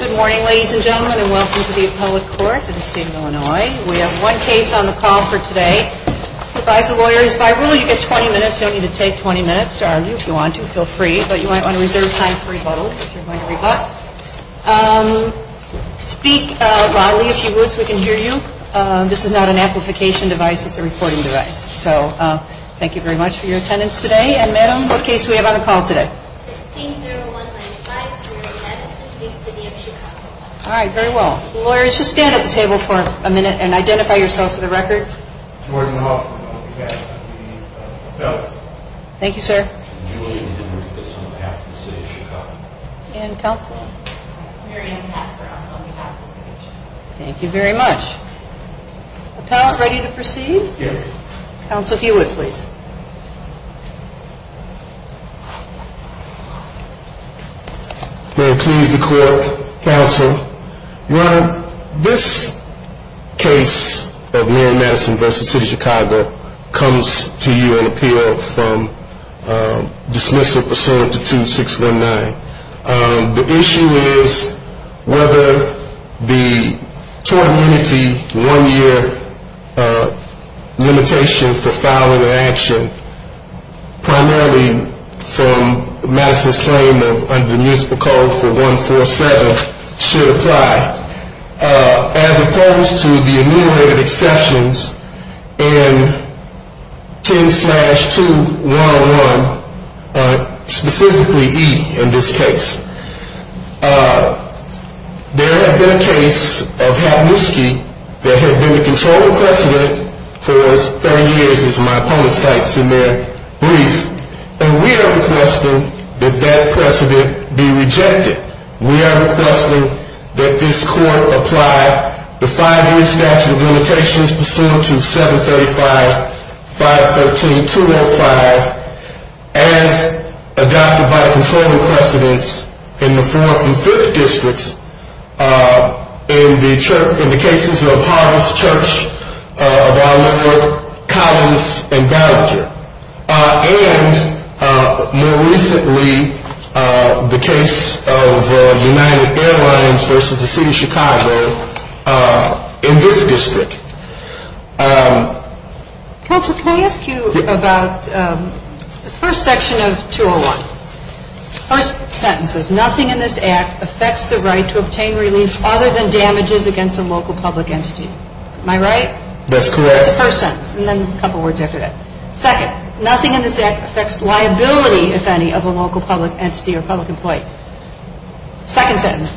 Good morning ladies and gentlemen and welcome to the appellate court in the state of Illinois. We have one case on the call for today. Advise the lawyers, by rule you get 20 minutes, you don't need to take 20 minutes to argue if you want to, feel free, but you might want to reserve time for rebuttal if you're going to rebut. Speak loudly if you would so we can hear you. This is not an amplification device, it's a reporting device. So thank you very much for your attendance today. Attorney and madam, what case do we have on the call today? 16-0195, Community Medicine, big city of Chicago. Alright, very well. Lawyers, just stand at the table for a minute and identify yourselves for the record. Jordan Hoffman, on behalf of the appellate. Thank you sir. Julian Rodriguez, on behalf of the city of Chicago. And counsel? Mary Ann Pasteros, on behalf of the city of Chicago. Thank you very much. Appellant, ready to proceed? Yes. Counsel Hewitt, please. May it please the court, counsel. Well, this case of Mayor Madison v. City of Chicago comes to you on appeal from dismissal pursuant to 2619. The issue is whether the tort immunity one year limitation for filing an action primarily from Madison's claim of under the municipal code for 147 should apply. As opposed to the enumerated exceptions in 10-211, specifically E in this case. There have been a case of Havnusky that had been the controlling precedent for as many years as my opponent cites in their brief. And we are requesting that that precedent be rejected. We are requesting that this court apply the five year statute of limitations pursuant to 735.513.205 as adopted by the controlling precedents in the 4th and 5th districts. In the case of Harvest Church of Arlington, Collins, and Gallagher. And more recently, the case of United Airlines v. City of Chicago in this district. Counsel, can I ask you about the first section of 201? First sentence is nothing in this act affects the right to obtain relief other than damages against a local public entity. Am I right? That's correct. That's the first sentence and then a couple of words after that. Second, nothing in this act affects liability, if any, of a local public entity or public employee. Second sentence,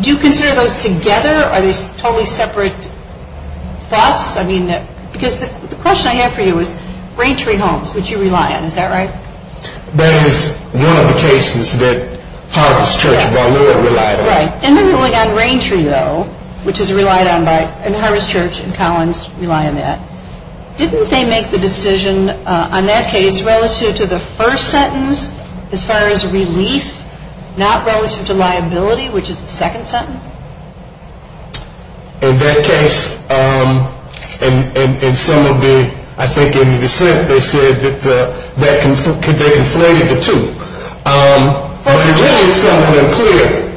do you consider those together or are they totally separate thoughts? I mean, because the question I have for you is ranchery homes, which you rely on, is that right? That is one of the cases that Harvest Church of Arlington relied on. Right. And then going on ranchery, though, which is relied on by Harvest Church and Collins rely on that. Didn't they make the decision on that case relative to the first sentence as far as relief, not relative to liability, which is the second sentence? In that case, in some of the, I think in the dissent, they said that they conflated the two. But there is something unclear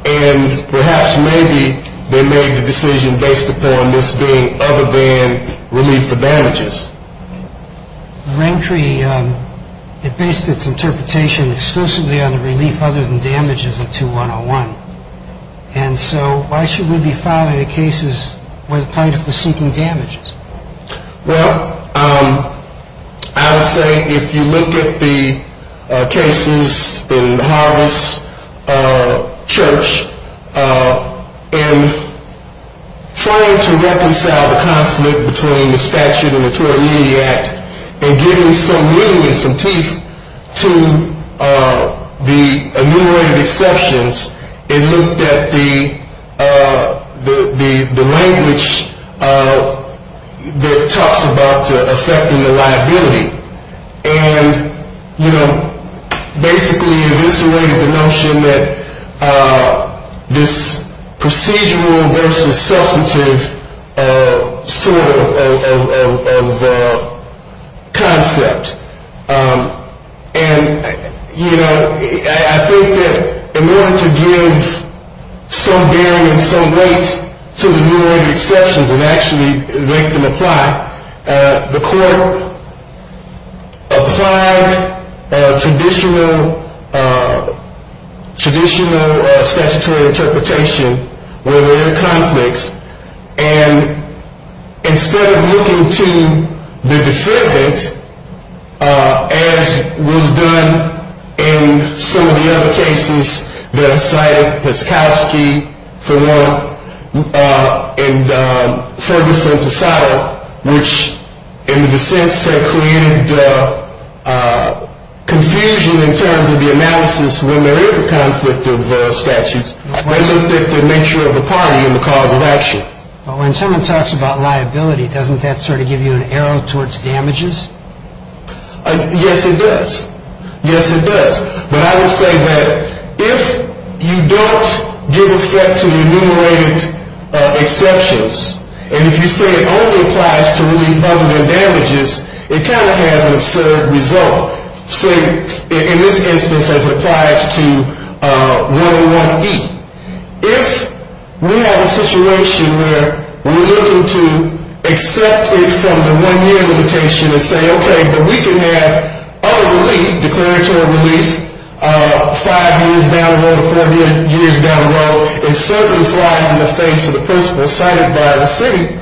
and perhaps maybe they made the decision based upon this being other than relief for damages. Ranchery, it based its interpretation exclusively on the relief other than damages of 2101. And so why should we be filing the cases where the plaintiff was seeking damages? Well, I would say if you look at the cases in Harvest Church and trying to reconcile the conflict between the statute and the tort immunity act and giving some meaning and some teeth to the enumerated exceptions, it looked at the language that talks about affecting the liability. And, you know, basically eviscerated the notion that this procedural versus substantive sort of concept. And, you know, I think that in order to give some bearing and some weight to the enumerated exceptions and actually make them apply, the court applied traditional statutory interpretation where there are conflicts. And instead of looking to the defendant, as was done in some of the other cases that are cited, Peskovsky, for one, and Ferguson, which in the dissents had created confusion in terms of the analysis when there is a conflict of statutes, they looked at the nature of the party and the cause of action. Well, when someone talks about liability, doesn't that sort of give you an arrow towards damages? Yes, it does. Yes, it does. But I would say that if you don't give effect to the enumerated exceptions, and if you say it only applies to relief other than damages, it kind of has an absurd result. So in this instance, as it applies to what we want to eat, if we have a situation where we're looking to accept it from the one-year limitation and say, okay, but we can have other relief, declaratory relief, five years down the road or four years down the road, it certainly flies in the face of the principle cited by the city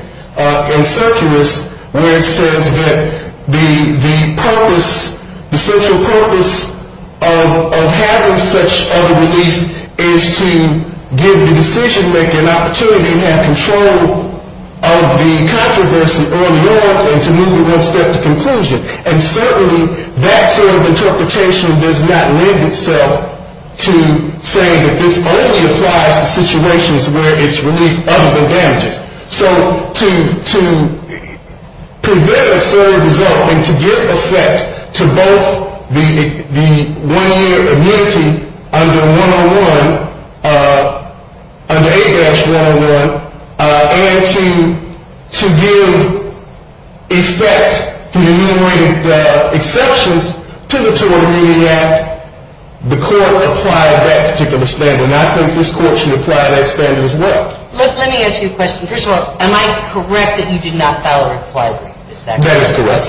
in Circus where it says that the social purpose of having such other relief is to give the decision-maker an opportunity to have control of the controversy early on and to move it one step to conclusion. And certainly that sort of interpretation does not lend itself to saying that this only applies to situations where it's relief other than damages. So to prevent an absurd result and to give effect to both the one-year immunity under 101, under A-101, and to give effect to the enumerated exceptions to the Toronto Community Act, the court applied that particular standard. And I think this court should apply that standard as well. Let me ask you a question. First of all, am I correct that you did not file a reply brief? That is correct.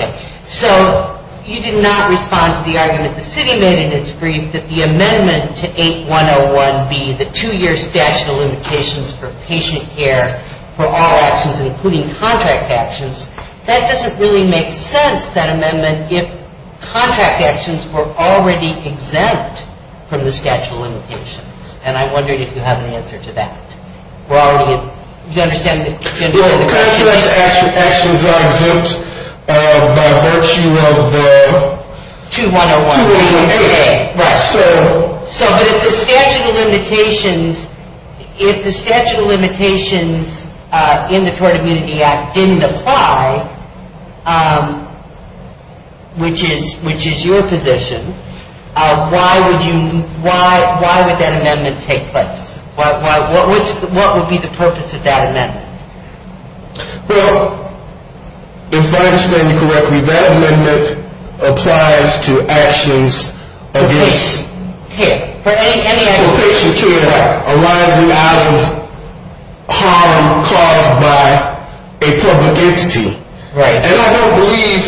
So you did not respond to the argument the city made in its brief that the amendment to 8-101-B, the two-year statute of limitations for patient care for all actions including contract actions, that doesn't really make sense, that amendment, if contract actions were already exempt from the statute of limitations. And I'm wondering if you have an answer to that. Contract actions are exempt by virtue of 2-101-B. So if the statute of limitations in the Toronto Community Act didn't apply, which is your position, why would that amendment take place? What would be the purpose of that amendment? Well, if I understand you correctly, that amendment applies to actions against patient care arising out of harm caused by a public entity. And I don't believe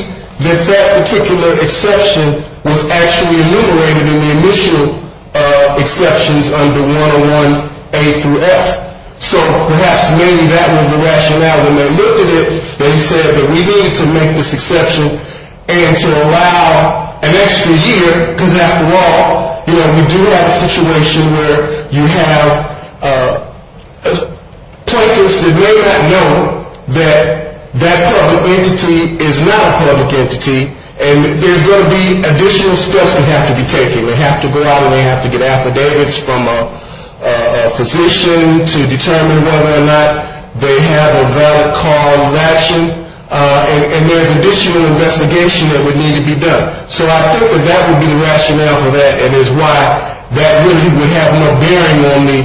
that that particular exception was actually enumerated in the initial exceptions under 101-A-F. So perhaps maybe that was the rationale. When they looked at it, they said that we needed to make this exception and to allow an extra year because, after all, we do have a situation where you have plaintiffs that may not know that that public entity is not a public entity and there's going to be additional steps we have to be taking. They have to go out and they have to get affidavits from a physician to determine whether or not they have a valid cause of action. And there's additional investigation that would need to be done. So I think that that would be the rationale for that and is why that really would have no bearing on me,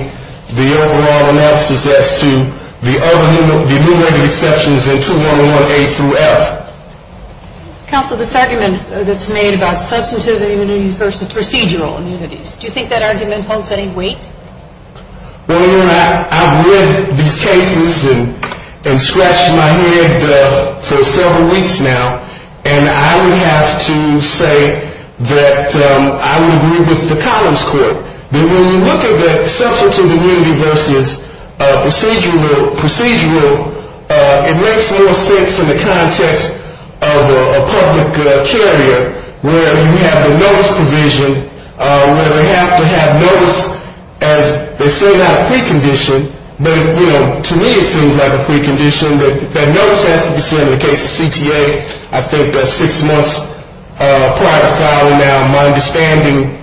the overall analysis as to the other enumerated exceptions in 2-101-A-F. Counsel, this argument that's made about substantive immunities versus procedural immunities, do you think that argument holds any weight? Well, you know, I've read these cases and scratched my head for several weeks now, and I would have to say that I would agree with the Collins Court. When you look at the substantive immunity versus procedural, it makes more sense in the context of a public carrier where you have the notice provision where they have to have notice as they say, not a precondition, but to me it seems like a precondition that notice has to be sent in the case of CTA. I think that six months prior to filing now, my understanding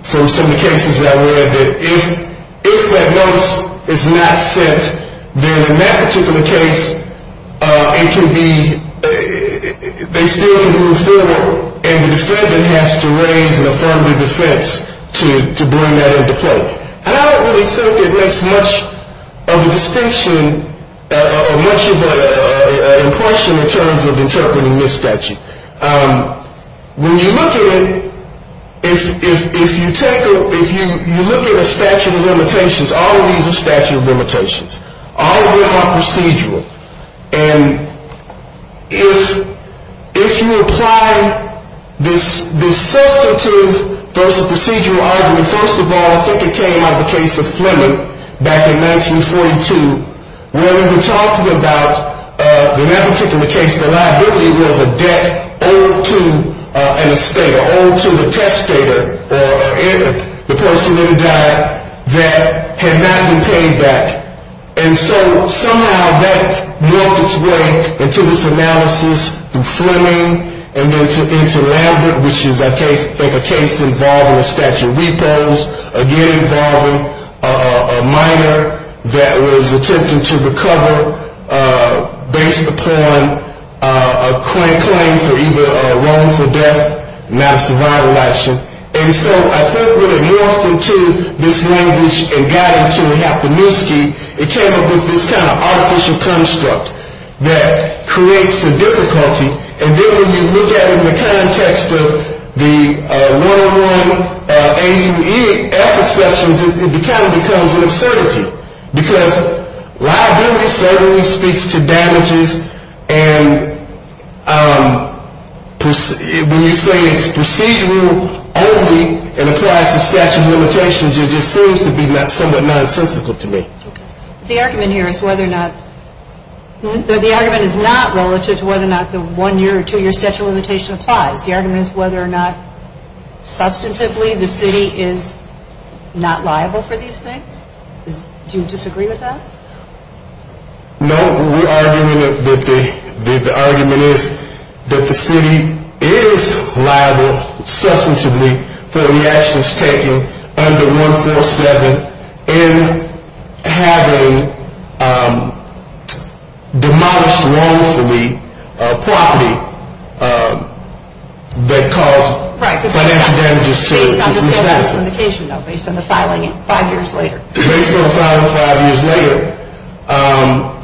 from some of the cases that I've read, that if that notice is not sent, then in that particular case it can be they still can do a referral and the defendant has to raise an affirmative defense to bring that into play. And I don't really think it makes much of a distinction or much of an impression in terms of interpreting this statute. When you look at it, if you look at a statute of limitations, all of these are statute of limitations. All of them are procedural. And if you apply this substantive versus procedural argument, first of all, I think it came out of a case of Fleming back in 1942 where they were talking about, in that particular case, the liability was a debt owed to an estate, owed to the testator or the person in the debt that had not been paid back. And so somehow that morphed its way into this analysis through Fleming and then into Lambert, which is I think a case involving a statute of repos, again involving a minor that was attempting to recover based upon a claim for either a wrongful death, not a survival action. And so I think when it morphed into this language and got into Hapemuski, it came up with this kind of artificial construct that creates a difficulty. And then when you look at it in the context of the 101 AUE effort sections, it kind of becomes an absurdity because liability certainly speaks to damages. And when you say it's procedural only and applies to statute of limitations, it just seems to be somewhat nonsensical to me. The argument here is whether or not – the argument is not relative to whether or not the one-year or two-year statute of limitation applies. The argument is whether or not substantively the city is not liable for these things. Do you disagree with that? No. The argument is that the city is liable substantively for the actions taken under 147 in having demolished wrongfully property that caused financial damages to the citizens. Based on the filing five years later. Based on the filing five years later,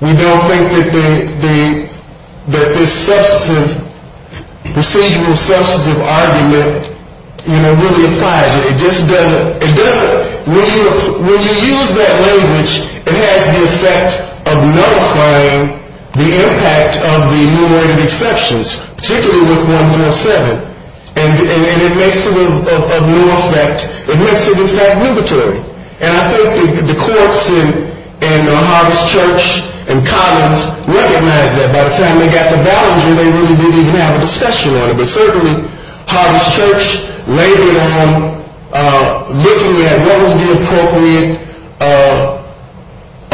we don't think that this substantive – procedural substantive argument really applies. It just doesn't – it doesn't – when you use that language, it has the effect of nullifying the impact of the numerator exceptions, particularly with 147. And it makes it of no effect. It makes it, in fact, numeratory. And I think the courts in Harvard's Church and Commons recognize that. By the time they got to Ballinger, they really didn't even have a discussion on it. But certainly, Harvard's Church labored on looking at what was the appropriate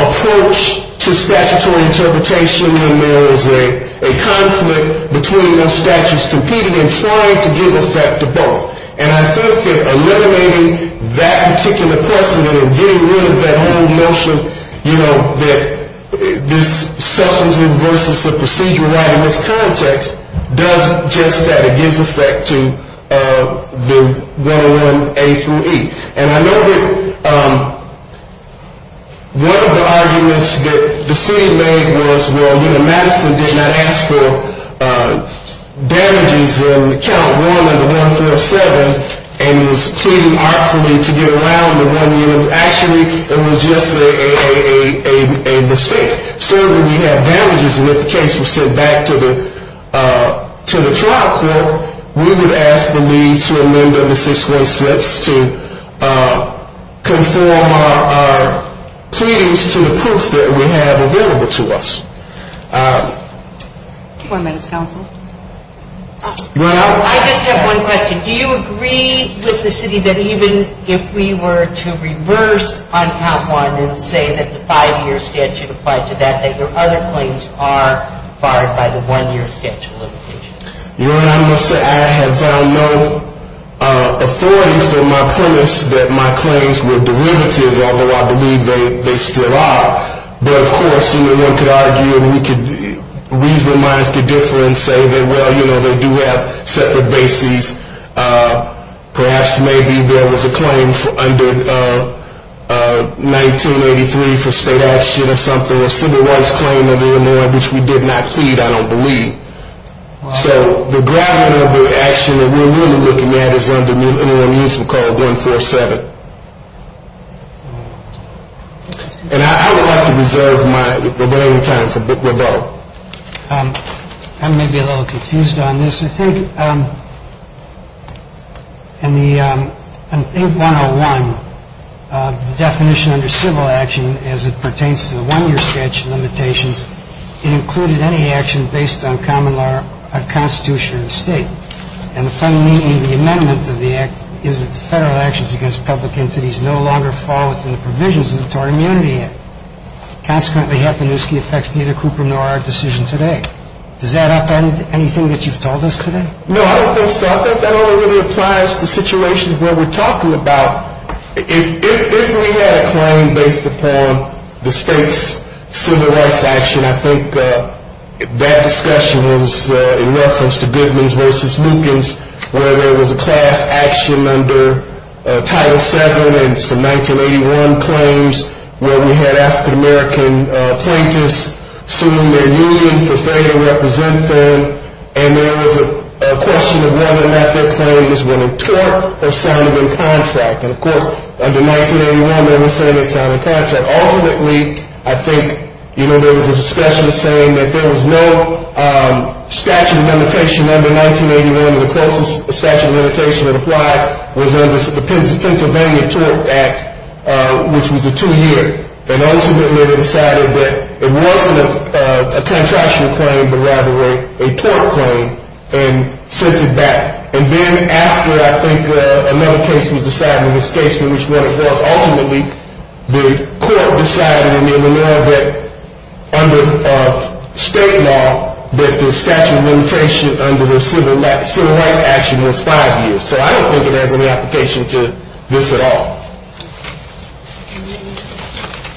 approach to statutory interpretation when there was a conflict between those statutes competing and trying to give effect to both. And I think that eliminating that particular precedent and getting rid of that whole notion, you know, that this substantive versus a procedural right in this context does just that. It gives effect to the 101A through E. And I know that one of the arguments that the city made was, well, you know, Madison did not ask for damages in count one of the 147 and was pleading artfully to get around the one unit. Actually, it was just a mistake. Certainly, we have damages, and if the case were sent back to the trial court, we would ask the lead to amend the six-way slips to conform our pleadings to the proof that we have available to us. One minute, counsel. Well, I just have one question. Do you agree with the city that even if we were to reverse on count one and say that the five-year statute applied to that, that your other claims are barred by the one-year statute of limitations? You know what I'm going to say? I have found no authority for my premise that my claims were derivative, although I believe they still are. But, of course, you know, one could argue and we could reason with minds that differ and say that, well, you know, they do have separate bases. Perhaps maybe there was a claim under 1983 for state action or something, or a civil rights claim under Illinois, which we did not plead, I don't believe. So the gravity of the action that we're really looking at is under an interim use we call 147. And I would like to reserve my remaining time for Brooke Rabot. I may be a little confused on this. Yes. I think in the I think 101, the definition under civil action as it pertains to the one-year statute limitations, it included any action based on common law of Constitution or the State. And the fundamental meaning of the amendment to the Act is that the Federal actions against public entities no longer fall within the provisions of the Tort Immunity Act. Consequently, Happenisky affects neither Cooper nor our decision today. Does that upend anything that you've told us today? No, I don't think so. I think that only really applies to situations where we're talking about if we had a claim based upon the State's civil rights action, I think that discussion was in reference to Goodman's versus Lukens, where there was a class action under Title VII and some 1981 claims where we had African-American plaintiffs suing their union for failure to represent them. And there was a question of whether or not their claim was within tort or sounded in contract. And, of course, under 1981, they were saying it sounded in contract. Ultimately, I think, you know, there was a discussion saying that there was no statute of limitation under 1981. The closest statute of limitation that applied was under the Pennsylvania Tort Act, which was a two-year. And ultimately, they decided that it wasn't a contractual claim but rather a tort claim and sent it back. And then after, I think, another case was decided in this case in which one was ultimately, the court decided under state law that the statute of limitation under the civil rights action was five years. So I don't think it has any application to this at all.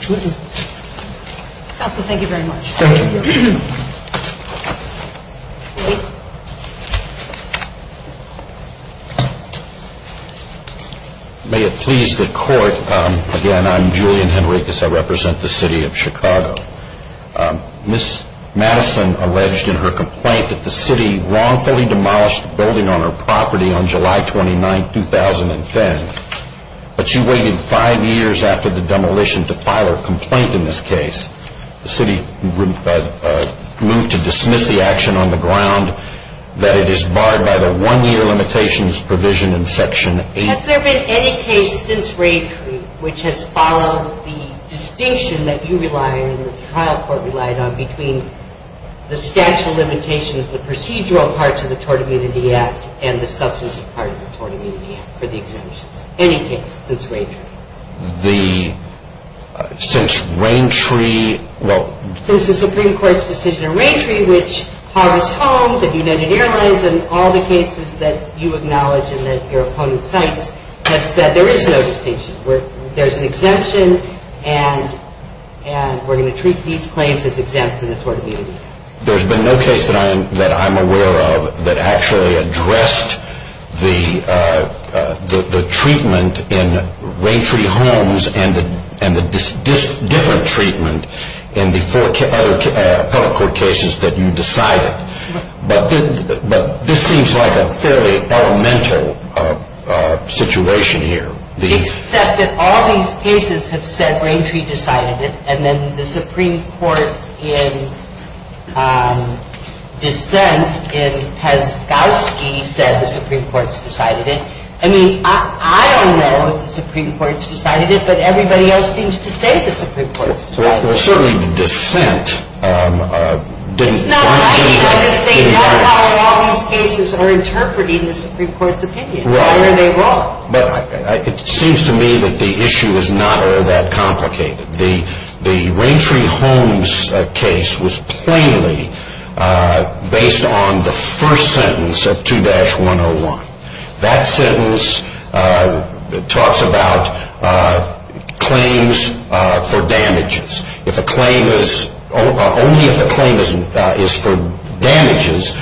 Counsel, thank you very much. Thank you. Thank you. May it please the court, again, I'm Julian Henricus. I represent the city of Chicago. Ms. Madison alleged in her complaint that the city wrongfully demolished a building on her property on July 29, 2010. But she waited five years after the demolition to file her complaint in this case. The city moved to dismiss the action on the ground that it is barred by the one-year limitations provision in Section 8. Has there been any case since Raytree which has followed the distinction that you relied and that the trial court relied on between the statute of limitations, the procedural parts of the Tort Immunity Act, and the substantive parts of the Tort Immunity Act for the exemptions? Any case since Raytree? Since the Supreme Court's decision in Raytree, which Harvest Homes and United Airlines and all the cases that you acknowledge and that your opponent cites, has said there is no distinction. There's an exemption and we're going to treat these claims as exempt from the Tort Immunity Act. There's been no case that I'm aware of that actually addressed the treatment in Raytree and the different treatment in the other appellate court cases that you decided. But this seems like a fairly elemental situation here. Except that all these cases have said Raytree decided it and then the Supreme Court in dissent in Peskovsky said the Supreme Court's decided it. I mean, I don't know if the Supreme Court's decided it, but everybody else seems to say the Supreme Court's decided it. Well, certainly the dissent didn't... It's not right because they know how all these cases are interpreted in the Supreme Court's opinion. Right. Whatever they brought. But it seems to me that the issue is not that complicated. The Raytree Homes case was plainly based on the first sentence of 2-101. That sentence talks about claims for damages. Only if a claim is for damages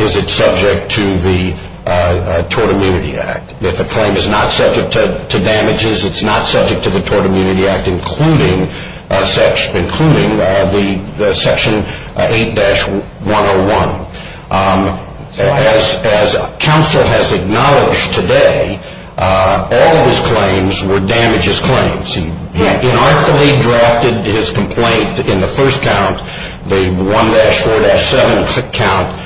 is it subject to the Tort Immunity Act. If a claim is not subject to damages, it's not subject to the Tort Immunity Act, including Section 8-101. As counsel has acknowledged today, all of his claims were damages claims. He unartfully drafted his complaint in the first count, the 1-4-7 count,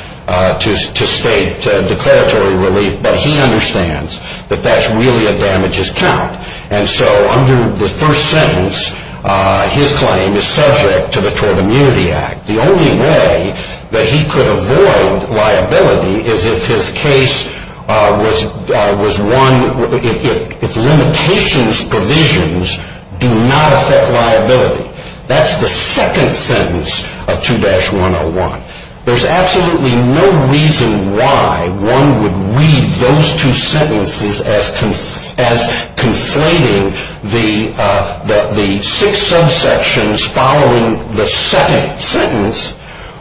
to state declaratory relief, but he understands that that's really a damages count. And so under the first sentence, his claim is subject to the Tort Immunity Act. The only way that he could avoid liability is if his case was one... if limitations provisions do not affect liability. That's the second sentence of 2-101. There's absolutely no reason why one would read those two sentences as conflating the six subsections following the second sentence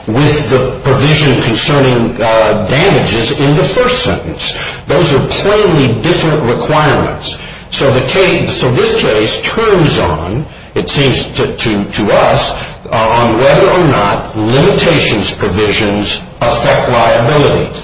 with the provision concerning damages in the first sentence. Those are plainly different requirements. So this case turns on, it seems to us, on whether or not limitations provisions affect liability.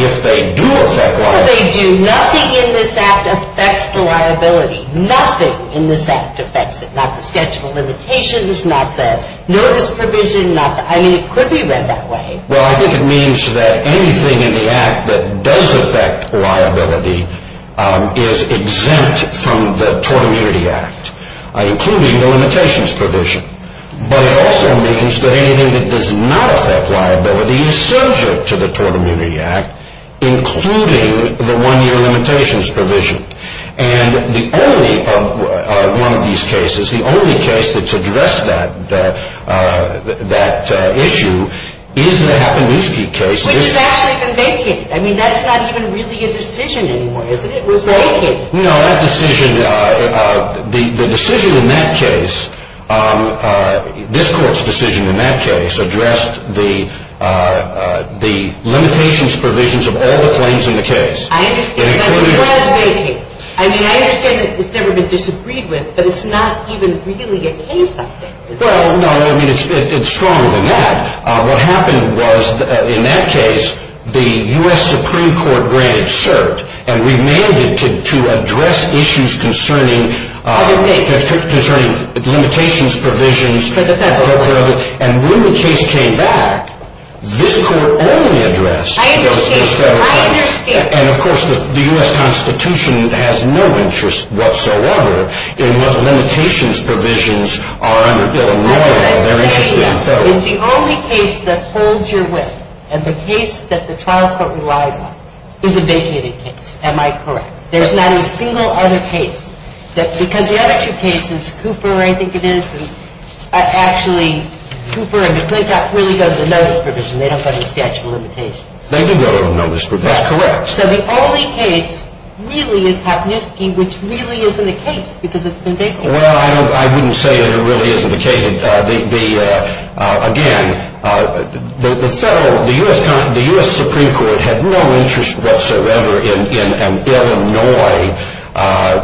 If they do affect liability... If they do, nothing in this Act affects the liability. Nothing in this Act affects it. Not the scheduled limitations, not the notice provision, not the... I mean, it could be read that way. Well, I think it means that anything in the Act that does affect liability is exempt from the Tort Immunity Act, including the limitations provision. But it also means that anything that does not affect liability is subject to the Tort Immunity Act, including the one-year limitations provision. And the only one of these cases, the only case that's addressed that issue is the Happendusky case. Which has actually been vacated. I mean, that's not even really a decision anymore, is it? It was vacated. No, that decision... The decision in that case, this Court's decision in that case, addressed the limitations provisions of all the claims in the case. I understand that. It was vacated. I mean, I understand that it's never been disagreed with, but it's not even really a case update, is it? Well, no, I mean, it's stronger than that. What happened was, in that case, the U.S. Supreme Court granted cert and remained it to address issues concerning limitations provisions. And when the case came back, this Court only addressed... I understand. And, of course, the U.S. Constitution has no interest whatsoever in what limitations provisions are under Bill and Laura. They're interested in federalism. It's the only case that holds your wit. And the case that the trial court relied on is a vacated case. Am I correct? There's not a single other case. Because the other two cases, Cooper, I think it is, and actually, Cooper and McClintock really go to the notice provision. They don't go to the statute of limitations. They do go to the notice provision. That's correct. So the only case really is Papniewski, which really isn't a case because it's been vacated. Well, I wouldn't say that it really isn't a case. Again, the U.S. Supreme Court had no interest whatsoever in an Illinois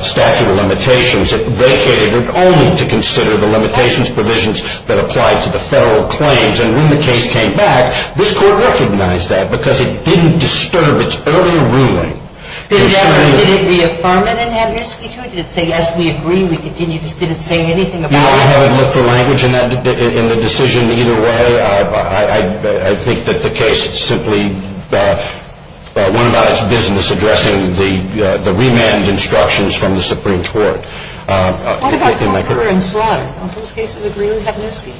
statute of limitations. It vacated it only to consider the limitations provisions that applied to the federal claims. And when the case came back, this Court recognized that because it didn't disturb its earlier ruling. Exactly. Did it reaffirm it in Papniewski, too? Did it say, yes, we agree, we continue, just didn't say anything about it? I haven't looked for language in the decision either way. I think that the case simply went about its business addressing the remand instructions from the Supreme Court. What about Cooper and Slaughter? Well, those cases agree with Papniewski.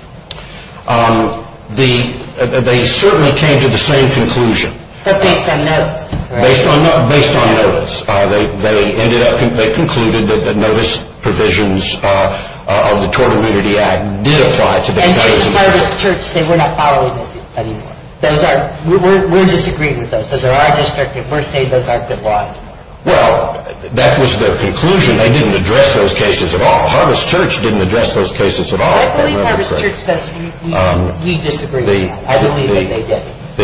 They certainly came to the same conclusion. But based on notice. Based on notice. They concluded that the notice provisions of the Tort Immunity Act did apply to them. And just Harvest Church said we're not following this anymore. We're disagreeing with those. Those are our district and we're saying those aren't good law. Well, that was their conclusion. They didn't address those cases at all. Well, Harvest Church didn't address those cases at all. I believe Harvest Church says we disagree with that. I believe that they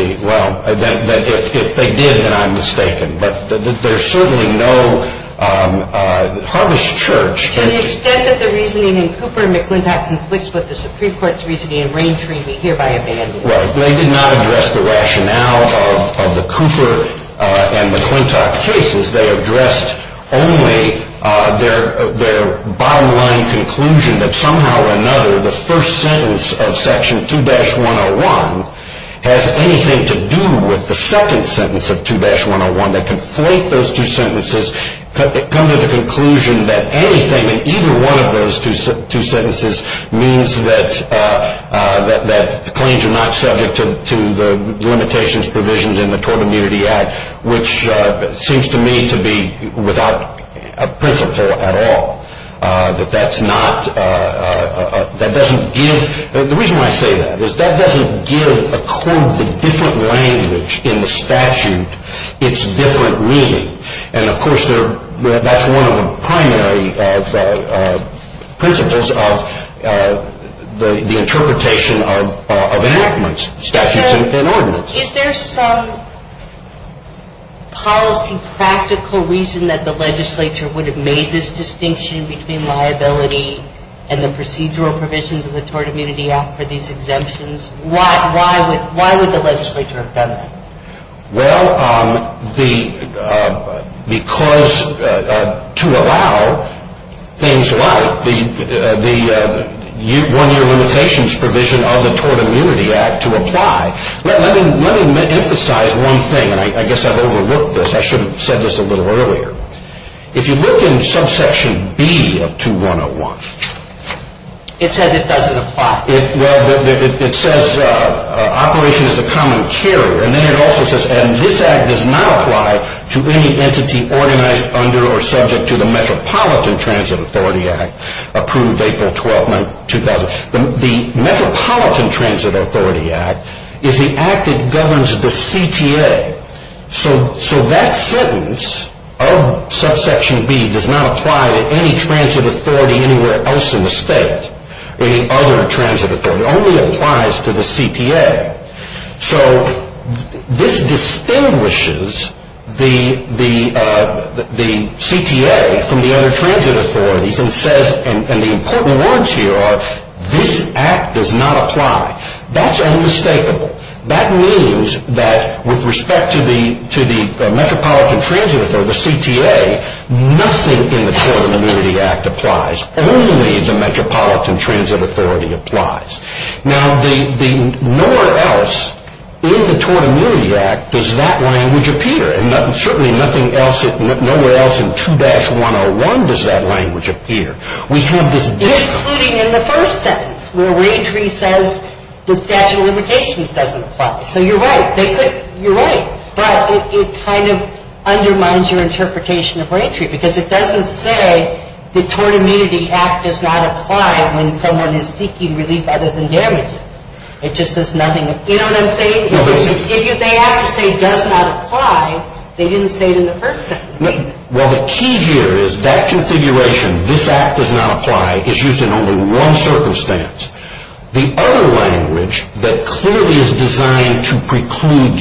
did. Well, if they did, then I'm mistaken. But there's certainly no Harvest Church. To the extent that the reasoning in Cooper and McClintock conflicts with the Supreme Court's reasoning in Raintree, we hereby abandon it. Well, they did not address the rationale of the Cooper and McClintock cases. They addressed only their bottom line conclusion that somehow or another the first sentence of Section 2-101 has anything to do with the second sentence of 2-101. They conflate those two sentences. They come to the conclusion that anything in either one of those two sentences means that claims are not subject to the limitations provisioned in the Tort Immunity Act, which seems to me to be without a principle at all, that that's not, that doesn't give, the reason why I say that is that doesn't give a quote the different language in the statute its different meaning. And, of course, that's one of the primary principles of the interpretation of enactments, statutes and ordinance. Is there some policy practical reason that the legislature would have made this distinction between liability and the procedural provisions of the Tort Immunity Act for these exemptions? Why would the legislature have done that? Well, because to allow things like the one-year limitations provision of the Tort Immunity Act to apply, let me emphasize one thing, and I guess I've overlooked this. I should have said this a little earlier. If you look in subsection B of 2-101. It says it doesn't apply. Well, it says operation is a common carrier, and then it also says, and this Act does not apply to any entity organized under or subject to the Metropolitan Transit Authority Act approved April 12, 2000. The Metropolitan Transit Authority Act is the Act that governs the CTA. So that sentence of subsection B does not apply to any transit authority anywhere else in the state, or any other transit authority. It only applies to the CTA. So this distinguishes the CTA from the other transit authorities, and the important ones here are this Act does not apply. That's unmistakable. That means that with respect to the Metropolitan Transit Authority, the CTA, nothing in the Tort Immunity Act applies. Only the Metropolitan Transit Authority applies. Now, nowhere else in the Tort Immunity Act does that language appear, and certainly nothing else, nowhere else in 2-101 does that language appear. We have this discomfort. Including in the first sentence, where Raytree says the Statute of Limitations doesn't apply. So you're right. You're right. But it kind of undermines your interpretation of Raytree, because it doesn't say the Tort Immunity Act does not apply when someone is seeking relief other than damages. It just says nothing. You know what I'm saying? If they have to say does not apply, they didn't say it in the first sentence. Well, the key here is that configuration, this Act does not apply, is used in only one circumstance. The other language that clearly is designed to preclude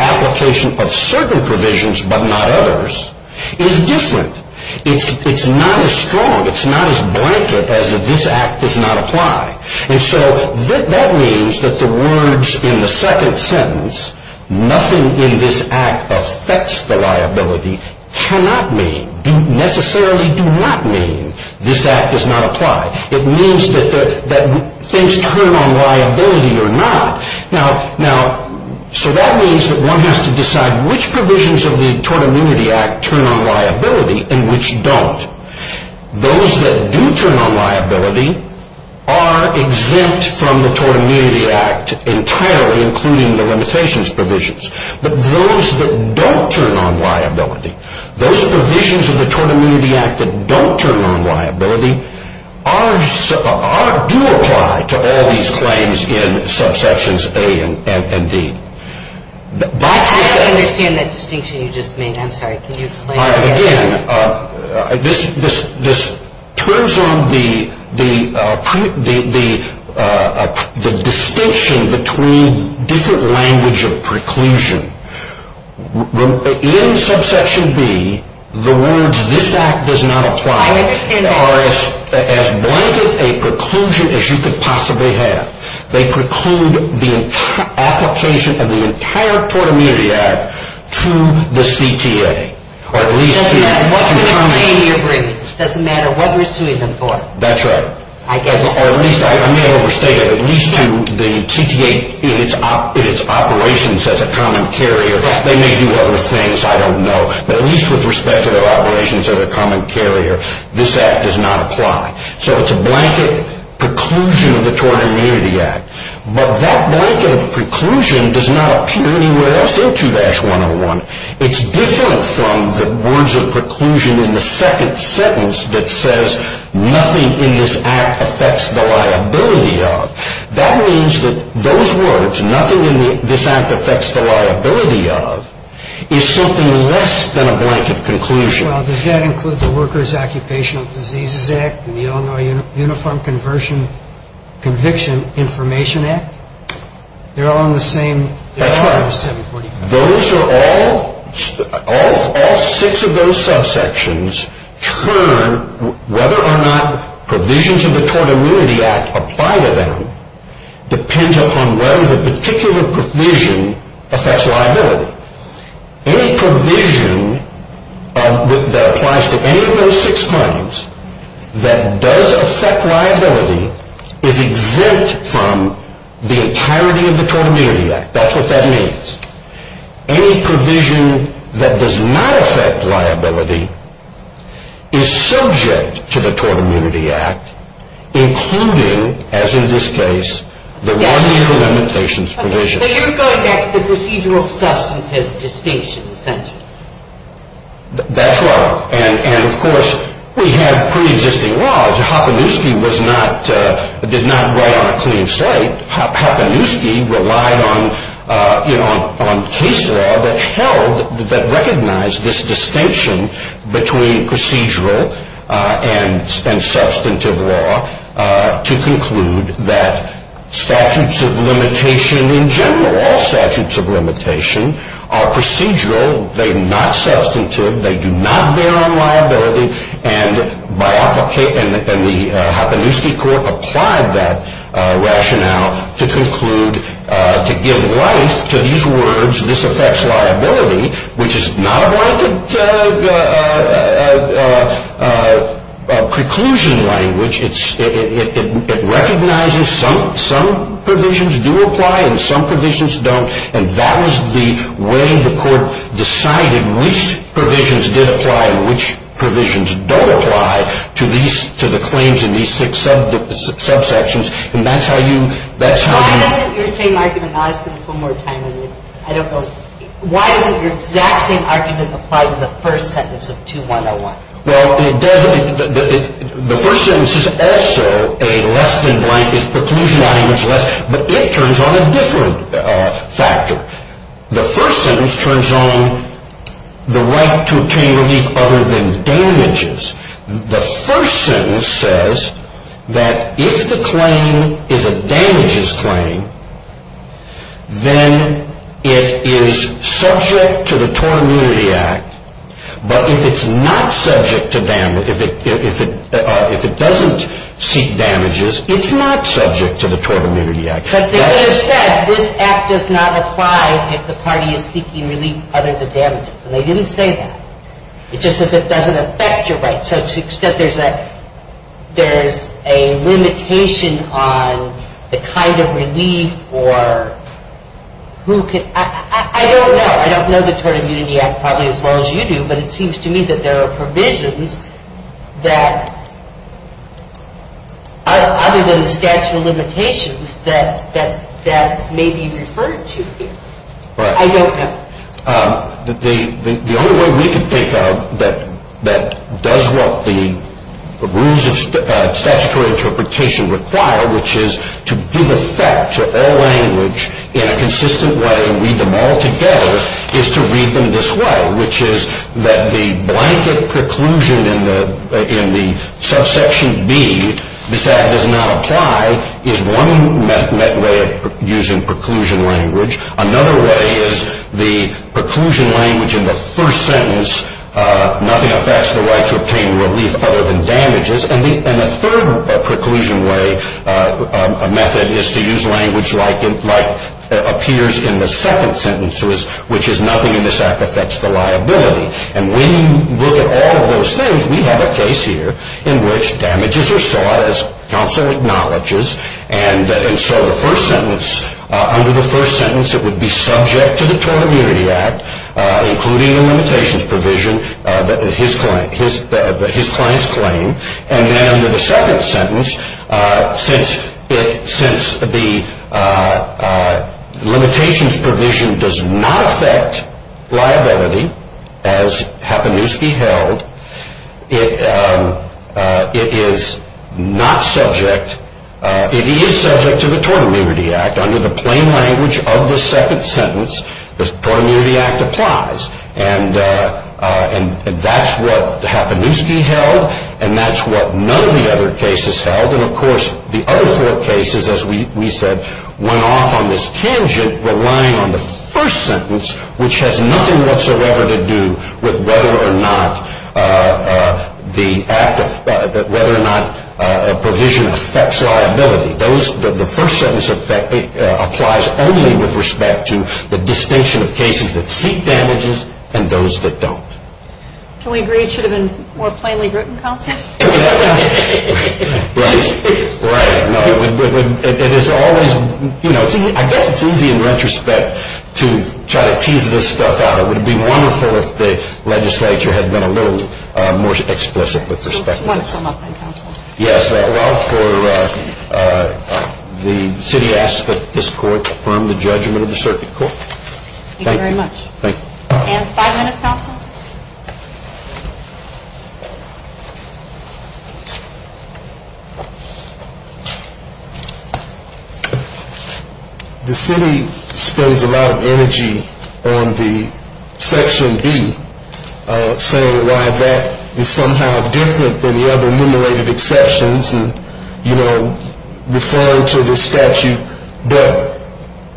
application of certain provisions but not others is different. It's not as strong. It's not as blanket as this Act does not apply. And so that means that the words in the second sentence, nothing in this Act affects the liability, cannot mean, necessarily do not mean this Act does not apply. It means that things turn on liability or not. Now, so that means that one has to decide which provisions of the Tort Immunity Act turn on liability and which don't. Those that do turn on liability are exempt from the Tort Immunity Act entirely, including the limitations provisions. But those that don't turn on liability, those provisions of the Tort Immunity Act that don't turn on liability, do apply to all these claims in subsections A and D. I don't understand that distinction you just made. I'm sorry. Can you explain it again? Again, this turns on the distinction between different language of preclusion. In subsection B, the words this Act does not apply are as blanket a preclusion as you could possibly have. They preclude the application of the entire Tort Immunity Act to the CTA. Doesn't matter what we're suing them for. That's right. Or at least, I may have overstated, at least to the CTA in its operations as a common carrier. They may do other things, I don't know. But at least with respect to their operations as a common carrier, this Act does not apply. So it's a blanket preclusion of the Tort Immunity Act. But that blanket of preclusion does not appear anywhere else in 2-101. It's different from the words of preclusion in the second sentence that says, nothing in this Act affects the liability of. That means that those words, nothing in this Act affects the liability of, is something less than a blanket conclusion. Well, does that include the Workers' Occupational Diseases Act and the Illinois Uniform Conviction Information Act? They're all in the same 745. Those are all, all six of those subsections turn whether or not provisions of the Tort Immunity Act apply to them depends upon whether the particular provision affects liability. Any provision that applies to any of those six claims that does affect liability is exempt from the entirety of the Tort Immunity Act. That's what that means. Any provision that does not affect liability is subject to the Tort Immunity Act, including, as in this case, the one-year limitations provision. So you're going back to the procedural-substantive distinction, essentially. That's right. And, of course, we have pre-existing laws. Hopanewski was not, did not write on a clean slate. Hopanewski relied on, you know, on case law that held, that recognized this distinction between procedural and substantive law to conclude that statutes of limitation in general, all statutes of limitation, are procedural. They're not substantive. They do not bear on liability. And the Hopanewski Court applied that rationale to conclude, to give life to these words, which is not a blanket preclusion language. It recognizes some provisions do apply and some provisions don't. And that was the way the Court decided which provisions did apply and which provisions don't apply to these, to the claims in these six subsections. And that's how you, that's how you. Why doesn't your same argument, and I'll ask this one more time, I don't know, why doesn't your exact same argument apply to the first sentence of 2-101? Well, it doesn't. The first sentence is also a less-than-blank, is preclusion language less, but it turns on a different factor. The first sentence turns on the right to obtain relief other than damages. The first sentence says that if the claim is a damages claim, then it is subject to the Tort Immunity Act. But if it's not subject to damages, if it doesn't seek damages, it's not subject to the Tort Immunity Act. But they could have said this act does not apply if the party is seeking relief other than damages. And they didn't say that. It just says it doesn't affect your rights. So to the extent there's a limitation on the kind of relief or who can, I don't know. I don't know the Tort Immunity Act probably as well as you do, but it seems to me that there are provisions that, other than the statute of limitations, that may be referred to here. I don't know. The only way we can think of that does what the rules of statutory interpretation require, which is to give effect to all language in a consistent way and read them all together, is to read them this way, which is that the blanket preclusion in the subsection B, this act does not apply, is one met way of using preclusion language. Another way is the preclusion language in the first sentence, nothing affects the right to obtain relief other than damages. And the third preclusion way, a method, is to use language like appears in the second sentence, which is nothing in this act affects the liability. And when you look at all of those things, we have a case here in which damages are sought, as counsel acknowledges, and so the first sentence, under the first sentence, it would be subject to the Tort Immunity Act, including the limitations provision, his client's claim. And then under the second sentence, since the limitations provision does not affect liability, as Hapinewski held, it is not subject, it is subject to the Tort Immunity Act. Under the plain language of the second sentence, the Tort Immunity Act applies. And that's what Hapinewski held, and that's what none of the other cases held. And, of course, the other four cases, as we said, went off on this tangent, relying on the first sentence, which has nothing whatsoever to do with whether or not a provision affects liability. The first sentence applies only with respect to the distinction of cases that seek damages and those that don't. Can we agree it should have been more plainly written content? Right, right. No, it is always, you know, I guess it's easy in retrospect to try to tease this stuff out. It would be wonderful if the legislature had been a little more explicit with respect to this. You want to sum up, then, counsel? Yes, well, for the city asks that this court confirm the judgment of the circuit court. Thank you very much. Thank you. And five minutes, counsel. The city spends a lot of energy on the Section B, saying why that is somehow different than the other enumerated exceptions, and, you know, referring to the statute. But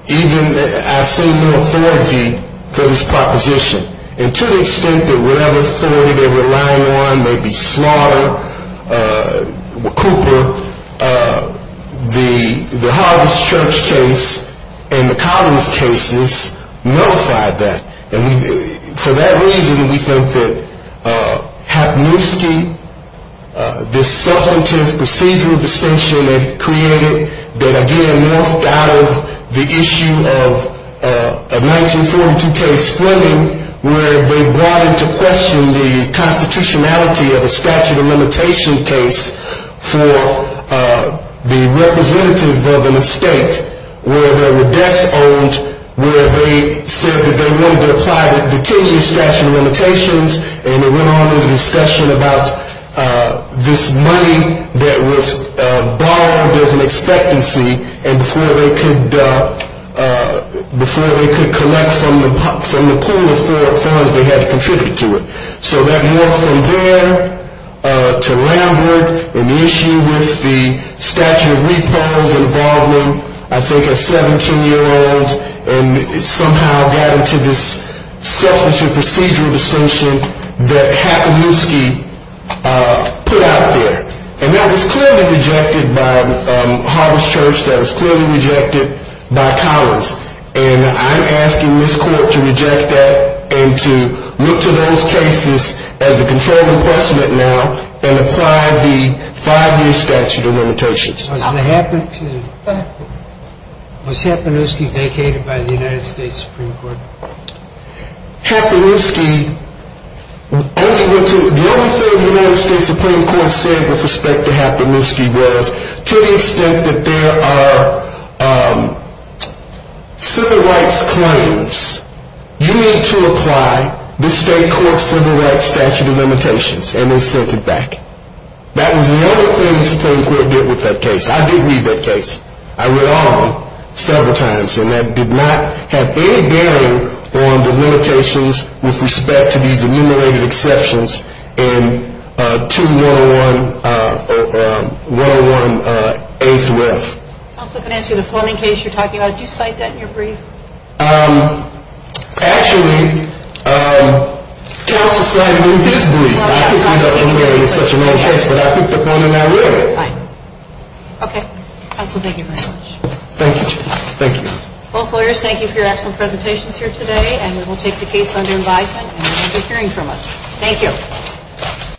even I see no authority for this proposition. And to the extent that whatever authority they're relying on may be slaughtered, Cooper, the Harvest Church case and the Collins cases nullified that. And for that reason, we think that Hapniewski, this substantive procedural distinction that he created, that, again, morphed out of the issue of a 1942 case, Fleming, where they brought into question the constitutionality of a statute of limitation case for the representative of an estate where there were debts owed, where they said that they wanted to apply the 10-year statute of limitations, and it went on into discussion about this money that was borrowed as an expectancy, and before they could collect from the pool of funds, they had to contribute to it. So that morphed from there to Lambert, and the issue with the statute of repos involving, I think, a 17-year-old, and somehow got into this substantive procedural distinction that Hapniewski put out there. And that was clearly rejected by the Harvest Church. That was clearly rejected by Collins. And I'm asking this Court to reject that and to look to those cases as the controlled inquestment now Was Hapniewski vacated by the United States Supreme Court? Hapniewski, the only thing the United States Supreme Court said with respect to Hapniewski was, to the extent that there are civil rights claims, you need to apply the state court civil rights statute of limitations, and they sent it back. That was the only thing the Supreme Court did with that case. I did read that case. I read on several times, and that did not have any bearing on the limitations with respect to these enumerated exceptions in 2-101-A-3-F. Counsel, if I can ask you, the Fleming case you're talking about, did you cite that in your brief? Actually, counsel cited it in his brief. I didn't know it was such a long case, but I picked up on it that way. Fine. Okay. Counsel, thank you very much. Thank you. Thank you. Both lawyers, thank you for your excellent presentations here today, and we will take the case under advisement, and we look forward to hearing from us. Thank you.